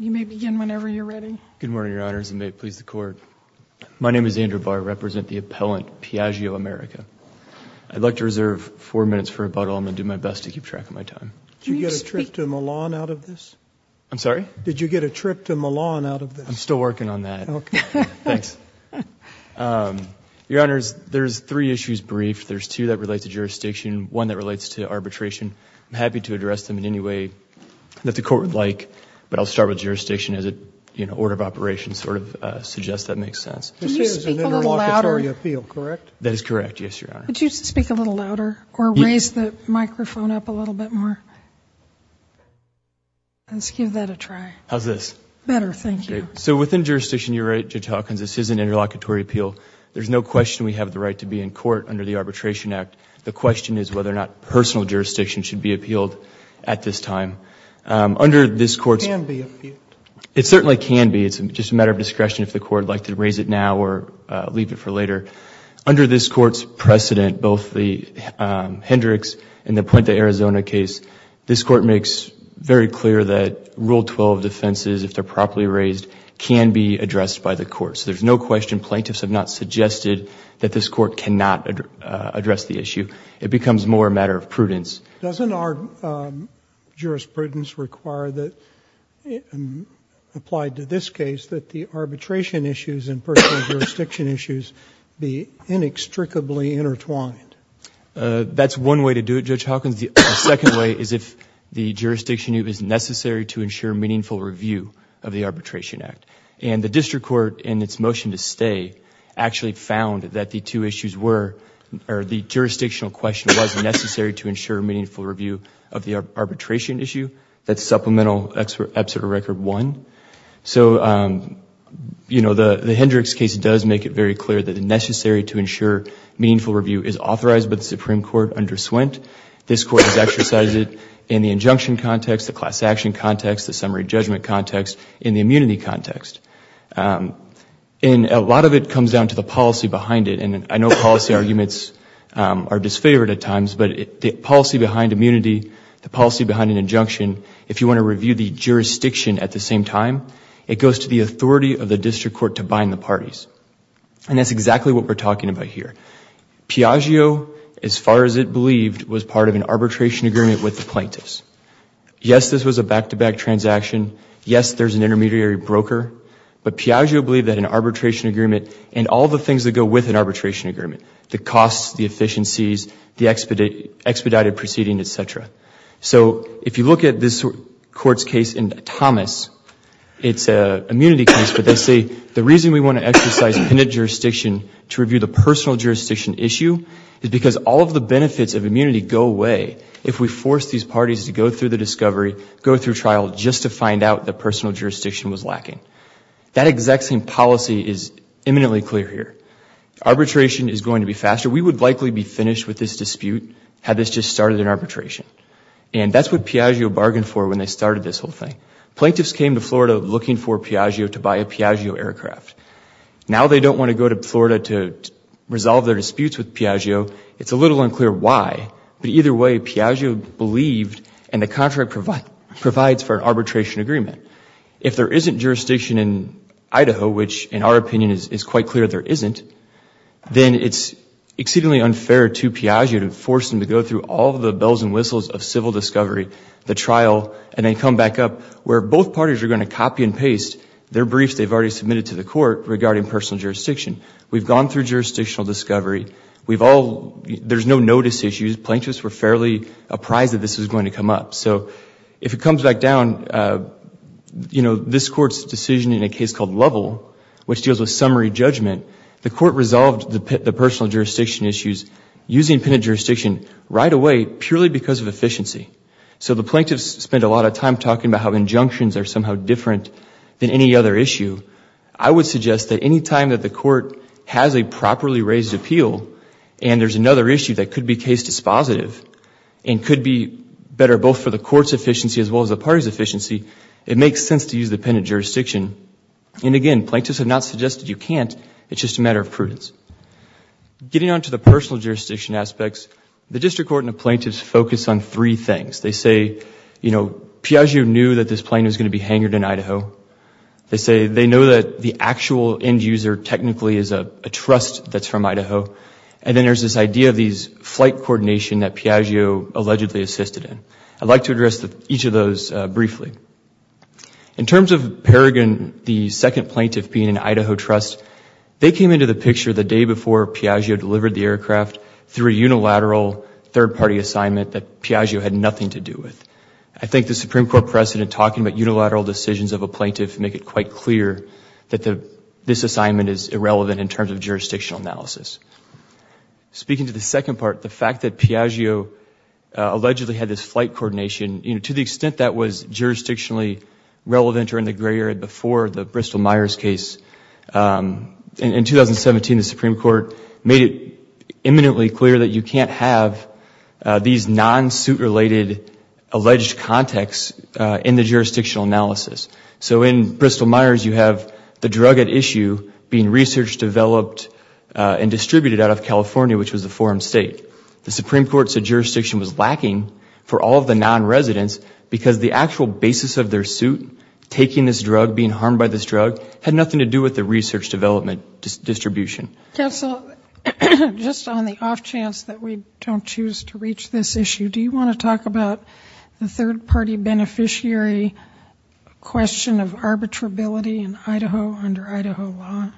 You may begin whenever you're ready. Good morning, Your Honors, and may it please the Court. My name is Andrew Barr. I represent the appellant, Piaggio America. I'd like to reserve four minutes for rebuttal. I'm going to do my best to keep track of my time. Did you get a trip to Milan out of this? I'm sorry? Did you get a trip to Milan out of this? I'm still working on that. Okay. Thanks. Your Honors, there's three issues briefed. There's two that relate to jurisdiction, one that relates to arbitration. I'm happy to address them in any way that the Court would like, but I'll start with jurisdiction as an order of operation sort of suggests that makes sense. This is an interlocutory appeal, correct? That is correct, yes, Your Honor. Could you speak a little louder or raise the microphone up a little bit more? Let's give that a try. How's this? Better, thank you. So within jurisdiction, you're right, Judge Hawkins, this is an interlocutory appeal. There's no question we have the right to be in court under the Arbitration Act. The question is whether or not personal jurisdiction should be appealed at this time. Under this Court's It can be appealed. It certainly can be. It's just a matter of discretion if the Court would like to raise it now or leave it for later. Under this Court's precedent, both the Hendricks and the Puente, Arizona case, this Court makes very clear that Rule 12 defenses, if they're properly raised, can be addressed by the Court. So there's no question plaintiffs have not suggested that this Court cannot address the issue. It becomes more a matter of prudence. Doesn't our jurisprudence require that, applied to this case, that the arbitration issues and personal jurisdiction issues be inextricably intertwined? That's one way to do it, Judge Hawkins. The second way is if the jurisdiction is necessary to ensure meaningful review of the Arbitration Act. And the District Court, in its motion to stay, actually found that the two issues were, or the jurisdictional question was necessary to ensure meaningful review of the arbitration issue. That's Supplemental Excerpt of Record 1. So, you know, the Hendricks case does make it very clear that it's necessary to ensure meaningful review is authorized by the Supreme Court under Swint. This Court has exercised it in the injunction context, the class action context, the summary judgment context, in the immunity context. And a lot of it comes down to the policy behind it. And I know policy arguments are disfavored at times, but the policy behind immunity, the policy behind an injunction, if you want to review the jurisdiction at the same time, it goes to the authority of the District Court to bind the parties. And that's exactly what we're talking about here. Piaggio, as far as it believed, was part of an arbitration agreement with the plaintiffs. Yes, this was a back-to-back transaction. Yes, there's an intermediary broker. But Piaggio believed that an arbitration agreement and all the things that go with an arbitration agreement, the costs, the efficiencies, the expedited proceeding, et cetera. So if you look at this Court's case in Thomas, it's an immunity case, but they say the reason we want to exercise penitent jurisdiction to review the personal jurisdiction issue is because all of the benefits of immunity go away if we force these parties to go through the discovery, go through trial just to find out that personal jurisdiction was lacking. That exact same policy is imminently clear here. Arbitration is going to be faster. We would likely be finished with this dispute had this just started in arbitration. And that's what Piaggio bargained for when they started this whole thing. Plaintiffs came to Florida looking for Piaggio to buy a Piaggio aircraft. Now they don't want to go to Florida to resolve their disputes with Piaggio. It's a little unclear why, but either way Piaggio believed and the contract provides for an arbitration agreement. If there isn't jurisdiction in Idaho, which in our opinion is quite clear there isn't, then it's exceedingly unfair to Piaggio to force them to go through all the bells and whistles of civil discovery, the trial, and then come back up where both parties are going to copy and paste their briefs that they've already submitted to the court regarding personal jurisdiction. We've gone through jurisdictional discovery. There's no notice issues. Plaintiffs were fairly apprised that this was going to come up. So if it comes back down, this court's decision in a case called Lovell, which deals with summary judgment, the court resolved the personal jurisdiction issues using penitent jurisdiction right away purely because of efficiency. So the plaintiffs spent a lot of time talking about how injunctions are somehow different than any other issue. I would suggest that any time that the court has a properly raised appeal and there's another issue that could be case dispositive and could be better both for the court's efficiency as well as the party's efficiency, it makes sense to use the penitent jurisdiction. And again, plaintiffs have not suggested you can't. It's just a matter of prudence. Getting on to the personal jurisdiction aspects, the district court and the plaintiffs focus on three things. They say, you know, Piaggio knew that this plane was going to be hangered in Idaho. They say they know that the actual end user technically is a trust that's from Idaho. And then there's this idea of these flight coordination that Piaggio allegedly assisted in. I'd like to address each of those briefly. In terms of Paragon, the second plaintiff being an Idaho trust, they came into the picture the day before Piaggio delivered the aircraft through a unilateral third-party assignment that Piaggio had nothing to do with. I think the Supreme Court precedent talking about unilateral decisions of a plaintiff make it quite clear that this assignment is irrelevant in terms of jurisdictional analysis. Speaking to the second part, the fact that Piaggio allegedly had this flight coordination, to the extent that was jurisdictionally relevant or in the gray area before the Bristol-Myers case. In 2017, the Supreme Court made it eminently clear that you can't have these non-suit-related alleged contacts in the jurisdictional analysis. So in Bristol-Myers, you have the drug at issue being researched, developed, and distributed out of California, which was the forum state. The Supreme Court said jurisdiction was lacking for all of the non-residents because the actual basis of their suit, taking this drug, being harmed by this drug, had nothing to do with the research development distribution. Counsel, just on the off chance that we don't choose to reach this issue, do you want to talk about the third-party beneficiary question of arbitrability in Idaho under Idaho law?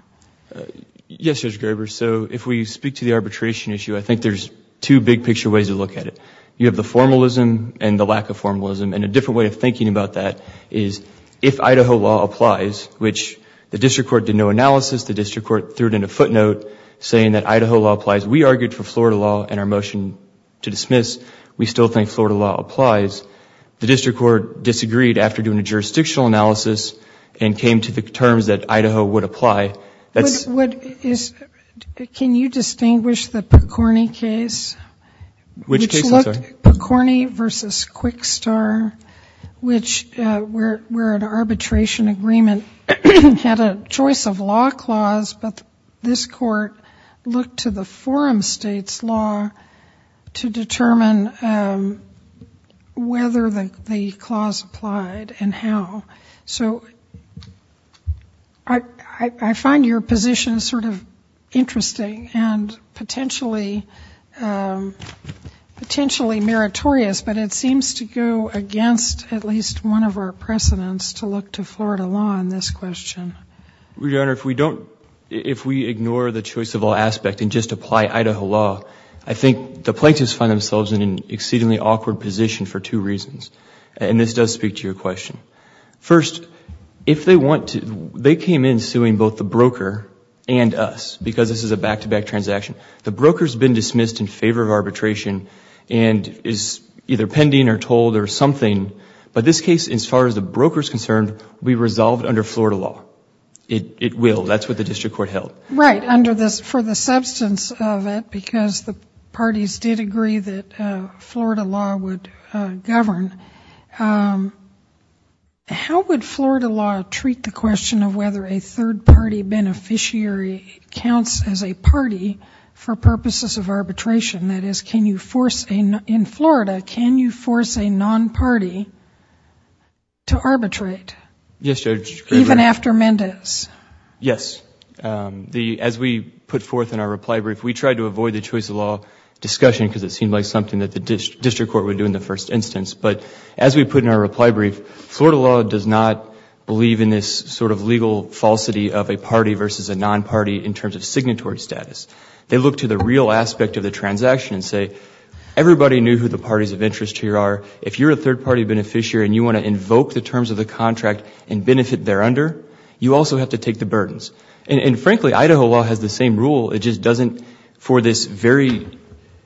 Yes, Judge Graber. So if we speak to the arbitration issue, I think there's two big-picture ways to look at it. You have the formalism and the lack of formalism. And a different way of thinking about that is if Idaho law applies, which the district court did no analysis. The district court threw it in a footnote saying that Idaho law applies. We argued for Florida law and our motion to dismiss. We still think Florida law applies. The district court disagreed after doing a jurisdictional analysis and came to the terms that Idaho would apply. Can you distinguish the Picorni case? Which case, I'm sorry? Picorni v. Quickstar, where an arbitration agreement had a choice of law clause, but this court looked to the forum state's law to determine whether the clause applied and how. So I find your position sort of interesting and potentially meritorious, but it seems to go against at least one of our precedents to look to Florida law in this question. Your Honor, if we ignore the choice of law aspect and just apply Idaho law, I think the plaintiffs find themselves in an exceedingly awkward position for two reasons. And this does speak to your question. First, they came in suing both the broker and us because this is a back-to-back transaction. The broker has been dismissed in favor of arbitration and is either pending or told or something. But this case, as far as the broker is concerned, will be resolved under Florida law. It will. That's what the district court held. Right, for the substance of it, because the parties did agree that Florida law would govern. How would Florida law treat the question of whether a third-party beneficiary counts as a party for purposes of arbitration? That is, in Florida, can you force a non-party to arbitrate? Yes, Judge. Even after Mendez? Yes. As we put forth in our reply brief, we tried to avoid the choice of law discussion because it seemed like something that the district court would do in the first instance. But as we put in our reply brief, Florida law does not believe in this sort of legal falsity of a party versus a non-party in terms of signatory status. They look to the real aspect of the transaction and say, everybody knew who the parties of interest here are. If you're a third-party beneficiary and you want to invoke the terms of the contract and benefit thereunder, you also have to take the burdens. And frankly, Idaho law has the same rule. It just doesn't for this very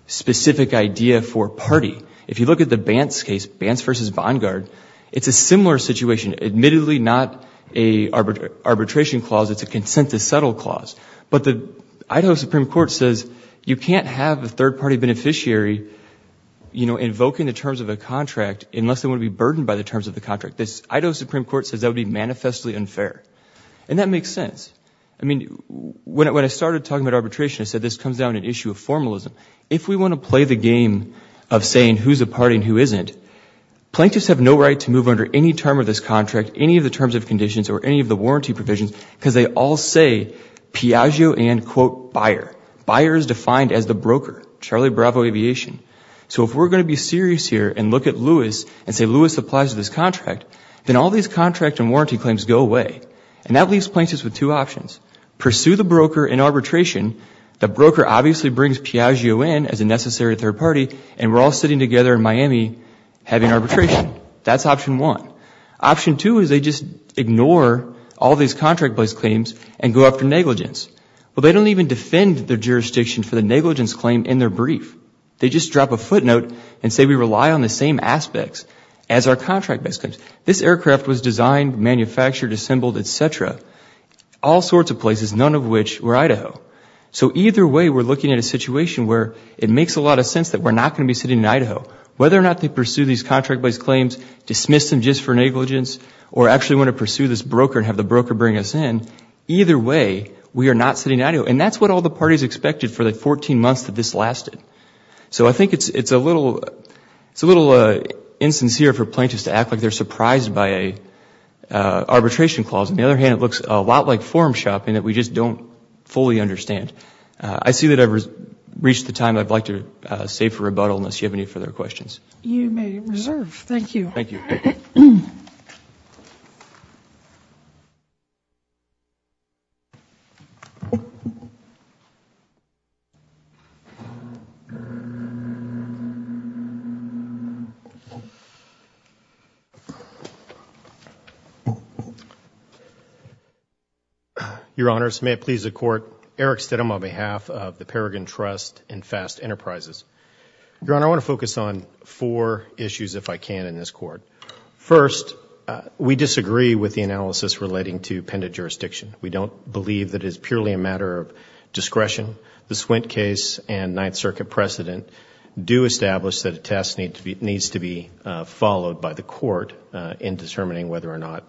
specific idea for party. If you look at the Bantz case, Bantz v. Vanguard, it's a similar situation. Admittedly, not an arbitration clause. It's a consent to settle clause. But the Idaho Supreme Court says you can't have a third-party beneficiary invoking the terms of a contract unless they want to be burdened by the terms of the contract. The Idaho Supreme Court says that would be manifestly unfair. And that makes sense. I mean, when I started talking about arbitration, I said this comes down to an issue of formalism. If we want to play the game of saying who's a party and who isn't, plaintiffs have no right to move under any term of this contract, any of the terms of conditions or any of the warranty provisions, because they all say Piaggio and, quote, buyer. Buyer is defined as the broker. Charlie Bravo Aviation. So if we're going to be serious here and look at Lewis and say Lewis applies to this contract, then all these contract and warranty claims go away. And that leaves plaintiffs with two options. Pursue the broker in arbitration. The broker obviously brings Piaggio in as a necessary third party, and we're all sitting together in Miami having arbitration. That's option one. Option two is they just ignore all these contract place claims and go after negligence. Well, they don't even defend their jurisdiction for the negligence claim in their brief. They just drop a footnote and say we rely on the same aspects as our contract base claims. This aircraft was designed, manufactured, assembled, et cetera. All sorts of places, none of which were Idaho. So either way, we're looking at a situation where it makes a lot of sense that we're not going to be sitting in Idaho. Whether or not they pursue these contract base claims, dismiss them just for negligence, or actually want to pursue this broker and have the broker bring us in, either way, we are not sitting in Idaho. And that's what all the parties expected for the 14 months that this lasted. So I think it's a little insincere for plaintiffs to act like they're surprised by an arbitration clause. On the other hand, it looks a lot like forum shopping that we just don't fully understand. I see that I've reached the time I'd like to save for rebuttal unless you have any further questions. You may reserve. Thank you. Thank you. Thank you. Your Honors, may it please the Court, Eric Stidham on behalf of the Peregrine Trust and Fast Enterprises. Your Honor, I want to focus on four issues, if I can, in this Court. First, we disagree with the analysis relating to pendent jurisdiction. We don't believe that it is purely a matter of discretion. The Swint case and Ninth Circuit precedent do establish that a test needs to be followed by the Court in determining whether or not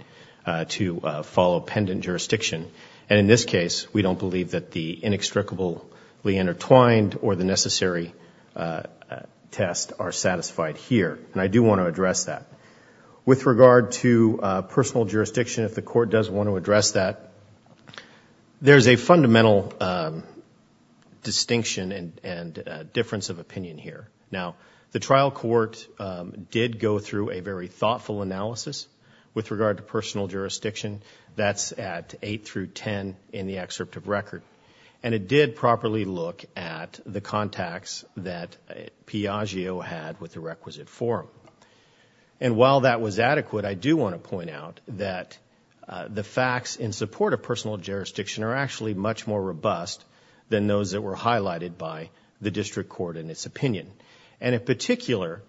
to follow pendent jurisdiction. And in this case, we don't believe that the inextricably intertwined or the necessary test are satisfied here. And I do want to address that. With regard to personal jurisdiction, if the Court does want to address that, there's a fundamental distinction and difference of opinion here. Now, the trial court did go through a very thoughtful analysis with regard to personal jurisdiction. That's at 8 through 10 in the excerpt of record. And it did properly look at the contacts that Piaggio had with the requisite forum. And while that was adequate, I do want to point out that the facts in support of personal jurisdiction are actually much more robust than those that were highlighted by the district court in its opinion. And in particular,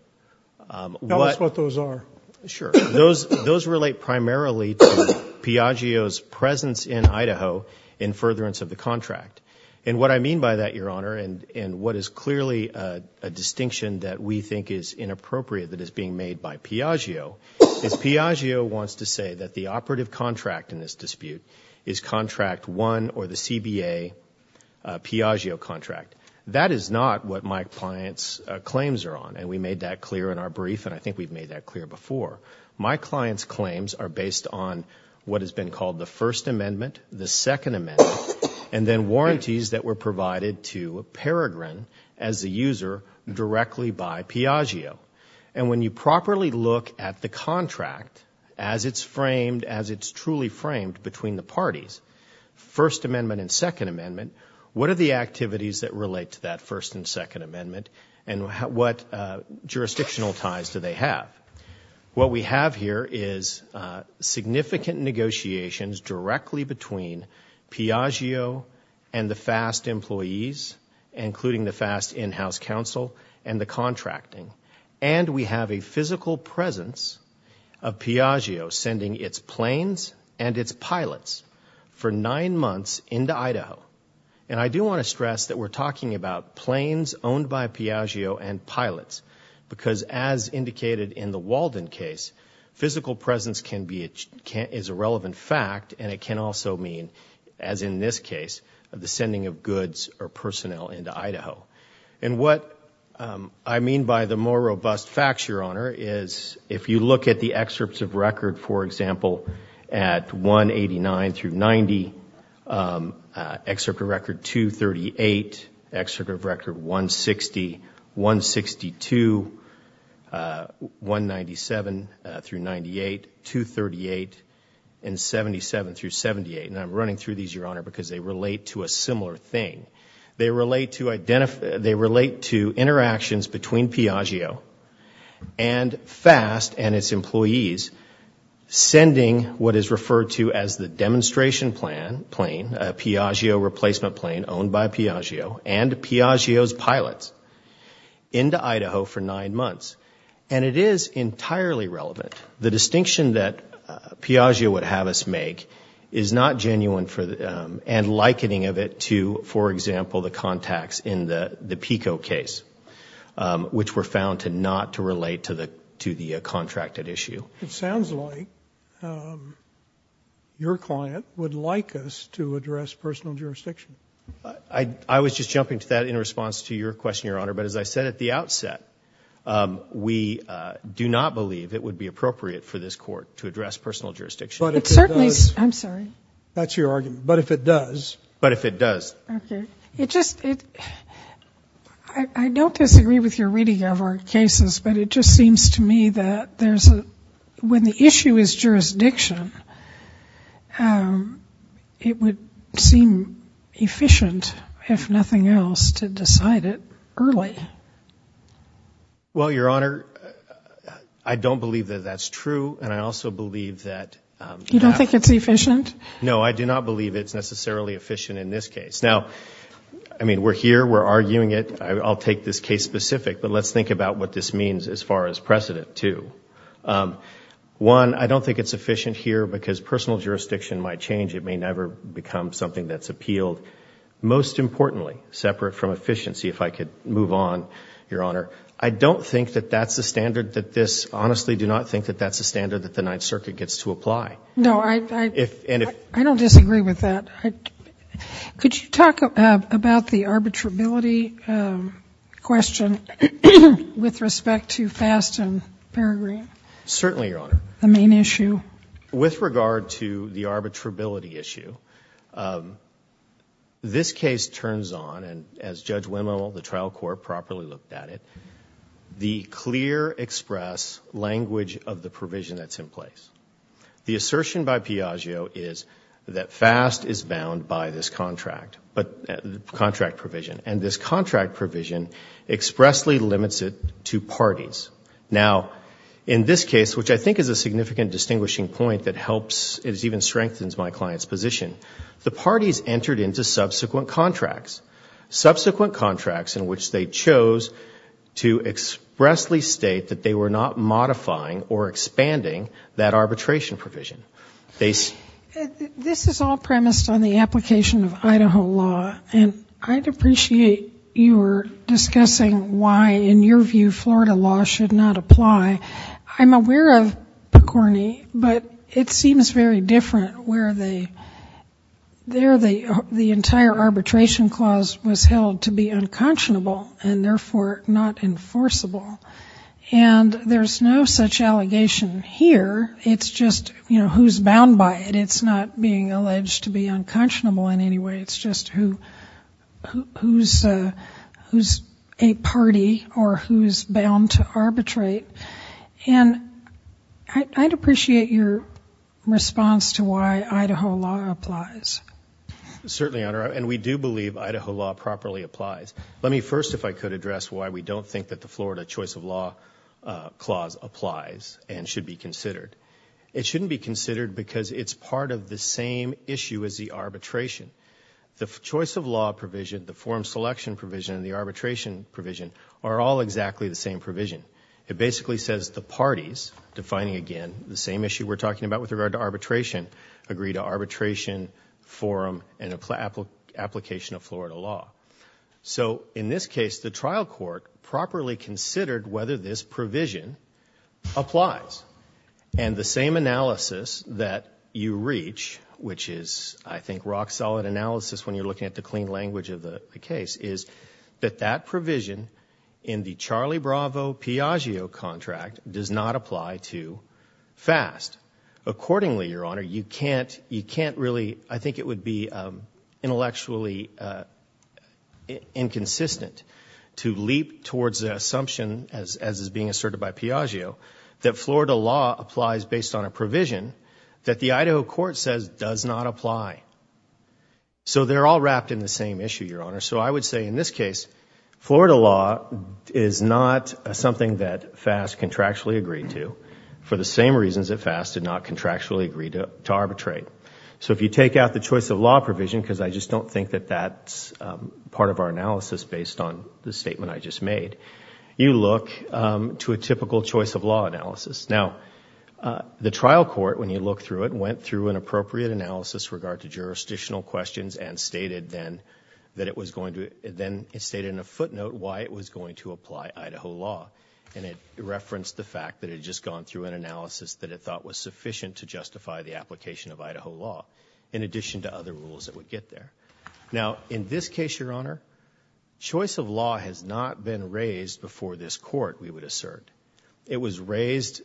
what- Tell us what those are. Sure. Those relate primarily to Piaggio's presence in Idaho in furtherance of the contract. And what I mean by that, Your Honor, and what is clearly a distinction that we think is inappropriate that is being made by Piaggio, is Piaggio wants to say that the operative contract in this dispute is Contract 1 or the CBA Piaggio contract. That is not what my client's claims are on. And we made that clear in our brief, and I think we've made that clear before. My client's claims are based on what has been called the First Amendment, the Second Amendment, and then warranties that were provided to Peregrin as the user directly by Piaggio. And when you properly look at the contract as it's framed, as it's truly framed between the parties, First Amendment and Second Amendment, what are the activities that relate to that First and Second Amendment and what jurisdictional ties do they have? What we have here is significant negotiations directly between Piaggio and the FAST employees, including the FAST in-house counsel and the contracting. And we have a physical presence of Piaggio sending its planes and its pilots for nine months into Idaho. And I do want to stress that we're talking about planes owned by Piaggio and pilots because as indicated in the Walden case, physical presence is a relevant fact, and it can also mean, as in this case, the sending of goods or personnel into Idaho. And what I mean by the more robust facts, Your Honor, is if you look at the excerpts of record, for example, at 189 through 90, excerpt of record 238, excerpt of record 160, 162, 197 through 98, 238, and 77 through 78. And I'm running through these, Your Honor, because they relate to a similar thing. They relate to interactions between Piaggio and FAST and its employees, sending what is referred to as the demonstration plane, a Piaggio replacement plane owned by Piaggio, and Piaggio's pilots into Idaho for nine months. And it is entirely relevant. The distinction that Piaggio would have us make is not genuine and likening of it to, for example, the contacts in the PICO case, which were found to not relate to the contracted issue. It sounds like your client would like us to address personal jurisdiction. I was just jumping to that in response to your question, Your Honor. But as I said at the outset, we do not believe it would be appropriate for this court to address personal jurisdiction. But it certainly is. I'm sorry. That's your argument. But if it does. But if it does. Okay. It just, it, I don't disagree with your reading of our cases, but it just seems to me that there's a, when the issue is jurisdiction, it would seem efficient, if nothing else, to decide it early. Well, Your Honor, I don't believe that that's true. And I also believe that. You don't think it's efficient? No, I do not believe it's necessarily efficient in this case. Now, I mean, we're here. We're arguing it. I'll take this case specific, but let's think about what this means as far as precedent, too. One, I don't think it's efficient here because personal jurisdiction might change. It may never become something that's appealed. Most importantly, separate from efficiency, if I could move on, Your Honor, I don't think that that's the standard that this, honestly, do not think that that's the standard that the Ninth Circuit gets to apply. No, I don't disagree with that. Could you talk about the arbitrability question with respect to Fast and Peregrine? Certainly, Your Honor. The main issue? With regard to the arbitrability issue, this case turns on, and as Judge Wendel, the trial court, properly looked at it, the clear express language of the provision that's in place. The assertion by Piaggio is that Fast is bound by this contract provision, and this contract provision expressly limits it to parties. Now, in this case, which I think is a significant distinguishing point that helps, it even strengthens my client's position, the parties entered into subsequent contracts, subsequent contracts in which they chose to expressly state that they were not modifying or expanding that arbitration provision. This is all premised on the application of Idaho law, and I'd appreciate your discussing why, in your view, Florida law should not apply. I'm aware of Picorni, but it seems very different where they, there the entire arbitration clause was held to be unconscionable and, therefore, not enforceable, and there's no such allegation here. It's just, you know, who's bound by it. It's not being alleged to be unconscionable in any way. It's just who's a party or who's bound to arbitrate, and I'd appreciate your response to why Idaho law applies. Certainly, Your Honor, and we do believe Idaho law properly applies. Let me first, if I could, address why we don't think that the Florida choice of law clause applies and should be considered. It shouldn't be considered because it's part of the same issue as the arbitration. The choice of law provision, the forum selection provision, and the arbitration provision are all exactly the same provision. It basically says the parties, defining again the same issue we're talking about with regard to arbitration, agree to arbitration, forum, and application of Florida law. So in this case, the trial court properly considered whether this provision applies, and the same analysis that you reach, which is, I think, rock-solid analysis when you're looking at the clean language of the case, is that that provision in the Charlie Bravo-Piaggio contract does not apply to FAST. Accordingly, Your Honor, you can't really, I think it would be intellectually inconsistent to leap towards the assumption, as is being asserted by Piaggio, that Florida law applies based on a provision that the Idaho court says does not apply. So they're all wrapped in the same issue, Your Honor. So I would say in this case, Florida law is not something that FAST contractually agreed to for the same reasons that FAST did not contractually agree to arbitrate. So if you take out the choice of law provision, because I just don't think that that's part of our analysis based on the statement I just made, you look to a typical choice of law analysis. Now, the trial court, when you look through it, went through an appropriate analysis with regard to jurisdictional questions and then stated in a footnote why it was going to apply Idaho law. And it referenced the fact that it had just gone through an analysis that it thought was sufficient to justify the application of Idaho law, in addition to other rules that would get there. Now, in this case, Your Honor, choice of law has not been raised before this court, we would assert. It was raised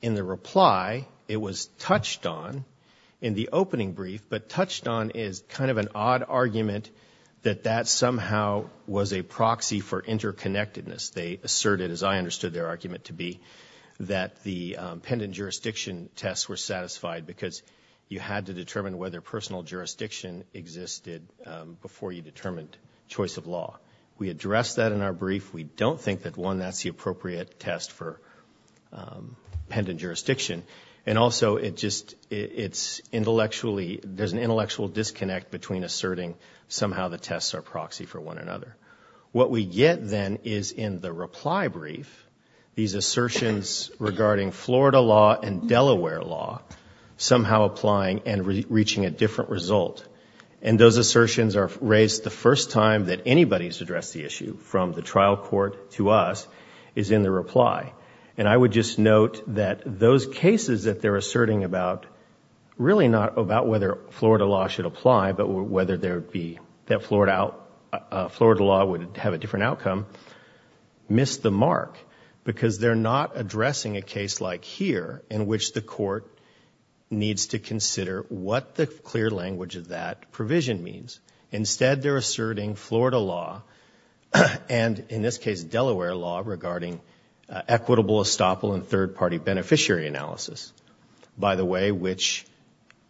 in the reply. It was touched on in the opening brief, but touched on is kind of an odd argument that that somehow was a proxy for interconnectedness. They asserted, as I understood their argument to be, that the pendant jurisdiction tests were satisfied because you had to determine whether personal jurisdiction existed before you determined choice of law. We addressed that in our brief. We don't think that, one, that's the appropriate test for pendant jurisdiction. And also, it just – it's intellectually – there's an intellectual disconnect between asserting somehow the tests are proxy for one another. What we get then is, in the reply brief, these assertions regarding Florida law and Delaware law somehow applying and reaching a different result. And those assertions are raised the first time that anybody has addressed the issue, from the trial court to us, is in the reply. And I would just note that those cases that they're asserting about, really not about whether Florida law should apply, but whether there would be – that Florida law would have a different outcome, missed the mark because they're not addressing a case like here in which the court needs to consider what the clear language of that provision means. Instead, they're asserting Florida law and, in this case, Delaware law, regarding equitable estoppel and third-party beneficiary analysis, by the way, which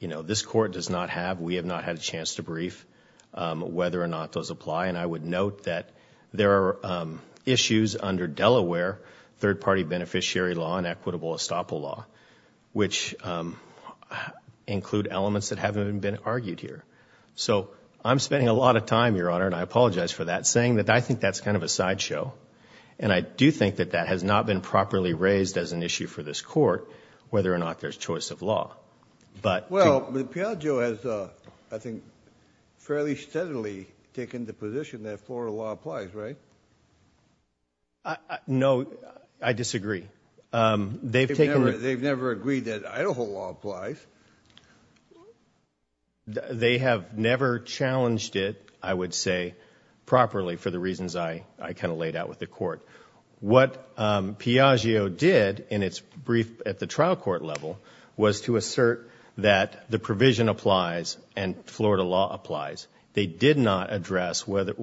this court does not have. We have not had a chance to brief whether or not those apply. And I would note that there are issues under Delaware, third-party beneficiary law and equitable estoppel law, which include elements that haven't been argued here. So I'm spending a lot of time, Your Honor, and I apologize for that, saying that I think that's kind of a sideshow. And I do think that that has not been properly raised as an issue for this court, whether or not there's choice of law. Well, Piaggio has, I think, fairly steadily taken the position that Florida law applies, right? No, I disagree. They've never agreed that Idaho law applies. They have never challenged it, I would say, properly, What Piaggio did in its brief at the trial court level was to assert that the provision applies and Florida law applies. They did not address whether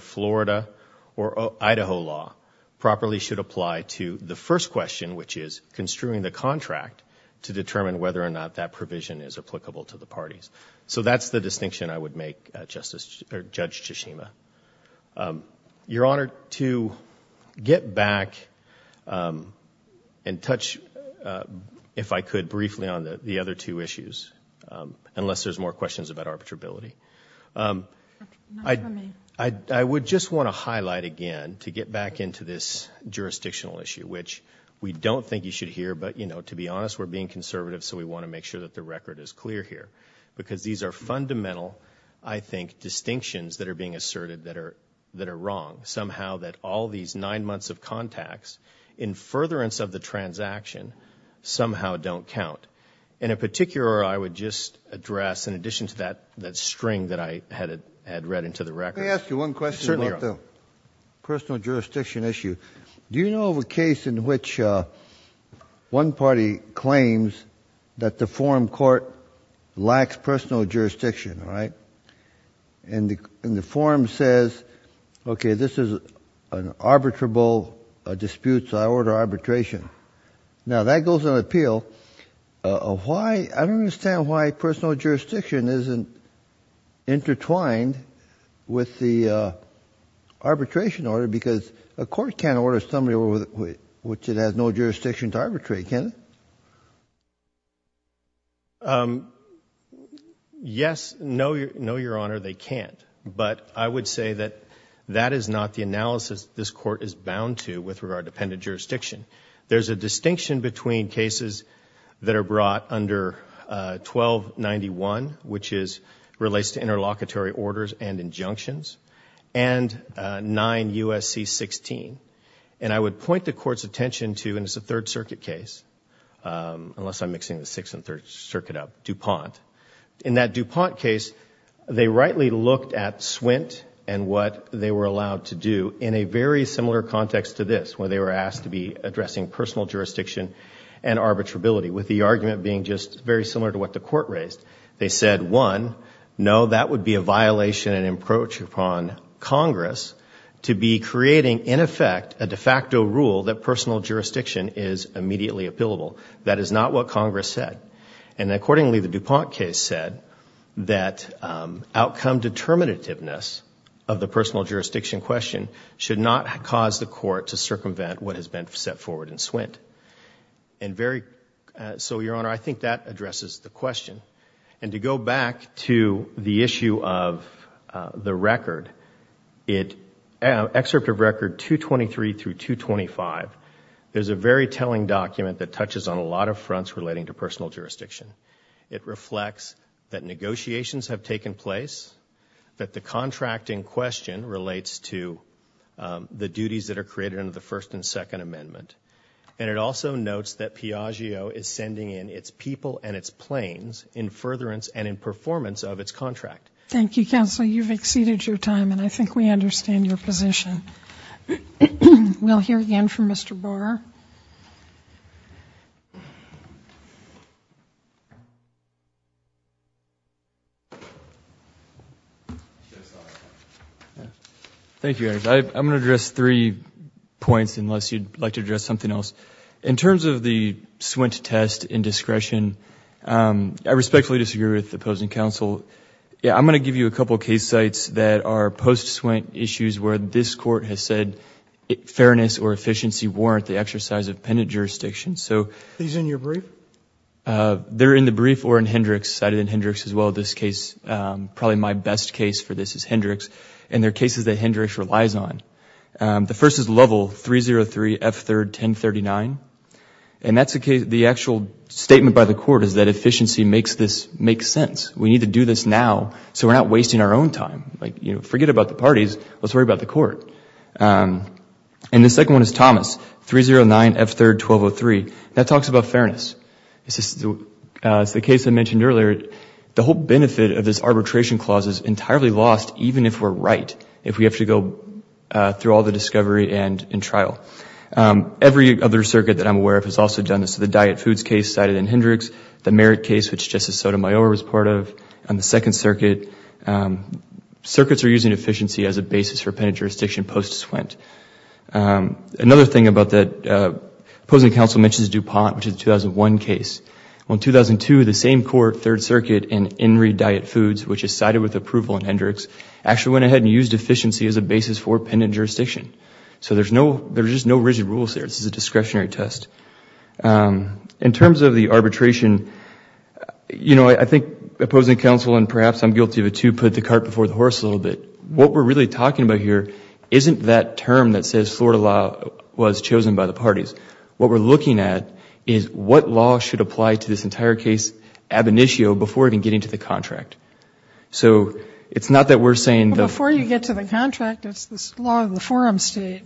Florida or Idaho law properly should apply to the first question, which is construing the contract to determine whether or not that provision is applicable to the parties. So that's the distinction I would make, Judge Tsushima. Your Honor, to get back and touch, if I could, briefly on the other two issues, unless there's more questions about arbitrability, I would just want to highlight again, to get back into this jurisdictional issue, which we don't think you should hear, but, you know, to be honest, we're being conservative, so we want to make sure that the record is clear here, because these are fundamental, I think, distinctions that are being asserted that are wrong, somehow that all these nine months of contacts in furtherance of the transaction somehow don't count. And in particular, I would just address, in addition to that string that I had read into the record, Let me ask you one question about the personal jurisdiction issue. Do you know of a case in which one party claims that the forum court lacks personal jurisdiction, right? And the forum says, okay, this is an arbitrable dispute, so I order arbitration. Now, that goes on appeal. I don't understand why personal jurisdiction isn't intertwined with the arbitration order, because a court can't order somebody which it has no jurisdiction to arbitrate, can it? Yes, no, Your Honor, they can't. But I would say that that is not the analysis this court is bound to with regard to pendant jurisdiction. There's a distinction between cases that are brought under 1291, which relates to interlocutory orders and injunctions, and 9 U.S.C. 16. And I would point the court's attention to, and it's a Third Circuit case, unless I'm mixing the Sixth and Third Circuit up, DuPont. In that DuPont case, they rightly looked at Swint and what they were allowed to do in a very similar context to this, where they were asked to be addressing personal jurisdiction and arbitrability, with the argument being just very similar to what the court raised. They said, one, no, that would be a violation and an approach upon Congress to be creating, in effect, a de facto rule that personal jurisdiction is immediately appealable. That is not what Congress said. And accordingly, the DuPont case said that outcome determinativeness of the personal jurisdiction question should not cause the court to circumvent what has been set forward in Swint. And so, Your Honor, I think that addresses the question. And to go back to the issue of the record, Excerpt of Record 223 through 225, there's a very telling document that touches on a lot of fronts relating to personal jurisdiction. It reflects that negotiations have taken place, that the contracting question relates to the duties that are created under the First and Second Amendment. And it also notes that Piaggio is sending in its people and its planes in furtherance and in performance of its contract. Thank you, Counselor. You've exceeded your time, and I think we understand your position. We'll hear again from Mr. Borer. Thank you, Your Honor. I'm going to address three points, unless you'd like to address something else. In terms of the Swint test in discretion, I respectfully disagree with the opposing counsel. I'm going to give you a couple of case sites that are post-Swint issues where this court has said fairness or efficiency warrant the exercise of pendant jurisdiction. Are these in your brief? They're in the brief or in Hendricks. I cited Hendricks as well in this case. Probably my best case for this is Hendricks. And they're cases that Hendricks relies on. The first is Level 303, F-3rd, 1039. And the actual statement by the court is that efficiency makes sense. We need to do this now so we're not wasting our own time. Forget about the parties. Let's worry about the court. And the second one is Thomas, 309, F-3rd, 1203. That talks about fairness. It's the case I mentioned earlier. The whole benefit of this arbitration clause is entirely lost even if we're right, if we have to go through all the discovery and in trial. Every other circuit that I'm aware of has also done this. The diet foods case cited in Hendricks, the merit case, which Justice Sotomayor was part of, and the Second Circuit. Circuits are using efficiency as a basis for pendant jurisdiction post-Swint. Another thing about that opposing counsel mentions DuPont, which is a 2001 case. Well, in 2002, the same court, Third Circuit, and Enri Diet Foods, which is cited with approval in Hendricks, actually went ahead and used efficiency as a basis for pendant jurisdiction. So there's just no rigid rules there. This is a discretionary test. In terms of the arbitration, you know, I think opposing counsel, and perhaps I'm guilty of it too, put the cart before the horse a little bit. What we're really talking about here isn't that term that says Florida law was chosen by the parties. What we're looking at is what law should apply to this entire case ab initio before even getting to the contract. So it's not that we're saying that... But before you get to the contract, it's the law of the forum state.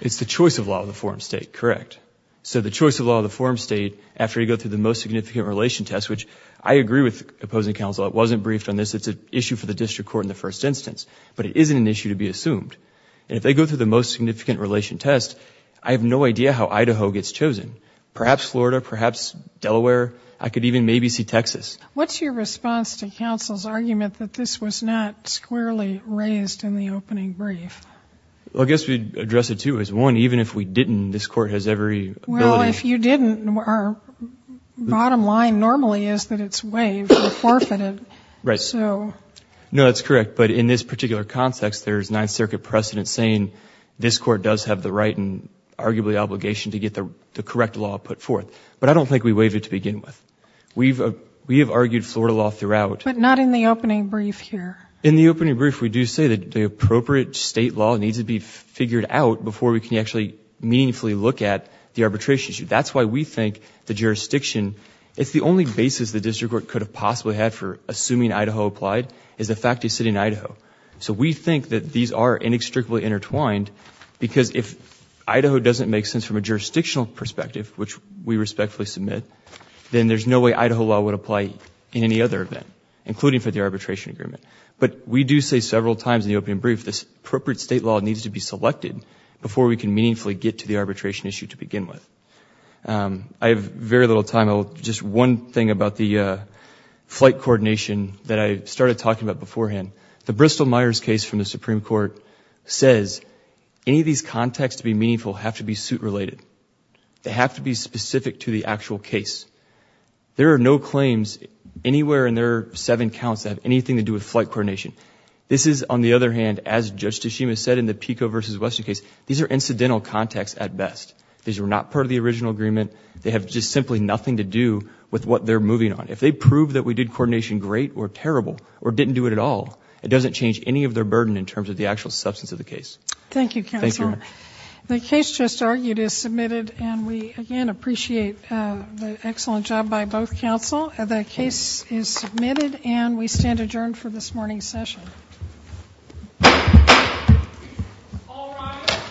It's the choice of law of the forum state, correct. So the choice of law of the forum state, after you go through the most significant relation test, which I agree with opposing counsel. It wasn't briefed on this. It's an issue for the district court in the first instance. But it isn't an issue to be assumed. And if they go through the most significant relation test, I have no idea how Idaho gets chosen. Perhaps Florida, perhaps Delaware. I could even maybe see Texas. What's your response to counsel's argument that this was not squarely raised in the opening brief? Well, I guess we'd address it too as one. Even if we didn't, this court has every ability... Well, if you didn't, our bottom line normally is that it's waived or forfeited. Right. So... No, that's correct. But in this particular context, there's Ninth Circuit precedent saying this court does have the right and arguably obligation to get the correct law put forth. But I don't think we waive it to begin with. We have argued Florida law throughout. But not in the opening brief here. In the opening brief, we do say that the appropriate state law needs to be figured out before we can actually meaningfully look at the arbitration issue. That's why we think the jurisdiction... It's the only basis the district court could have possibly had for assuming Idaho applied is the fact it's sitting in Idaho. So we think that these are inextricably intertwined because if Idaho doesn't make sense from a jurisdictional perspective, which we respectfully submit, then there's no way Idaho law would apply in any other event, including for the arbitration agreement. But we do say several times in the opening brief this appropriate state law needs to be selected before we can meaningfully get to the arbitration issue to begin with. I have very little time. Just one thing about the flight coordination that I started talking about beforehand. The Bristol-Myers case from the Supreme Court says any of these contacts to be meaningful have to be suit-related. They have to be specific to the actual case. There are no claims anywhere in their seven counts that have anything to do with flight coordination. This is, on the other hand, as Judge Tshishima said in the Pico v. Western case, these are incidental contacts at best. These were not part of the original agreement. They have just simply nothing to do with what they're moving on. If they prove that we did coordination great or terrible or didn't do it at all, it doesn't change any of their burden in terms of the actual substance of the case. Thank you, Counselor. The case just argued is submitted, and we, again, appreciate the excellent job by both counsel. The case is submitted, and we stand adjourned for this morning's session. All rise.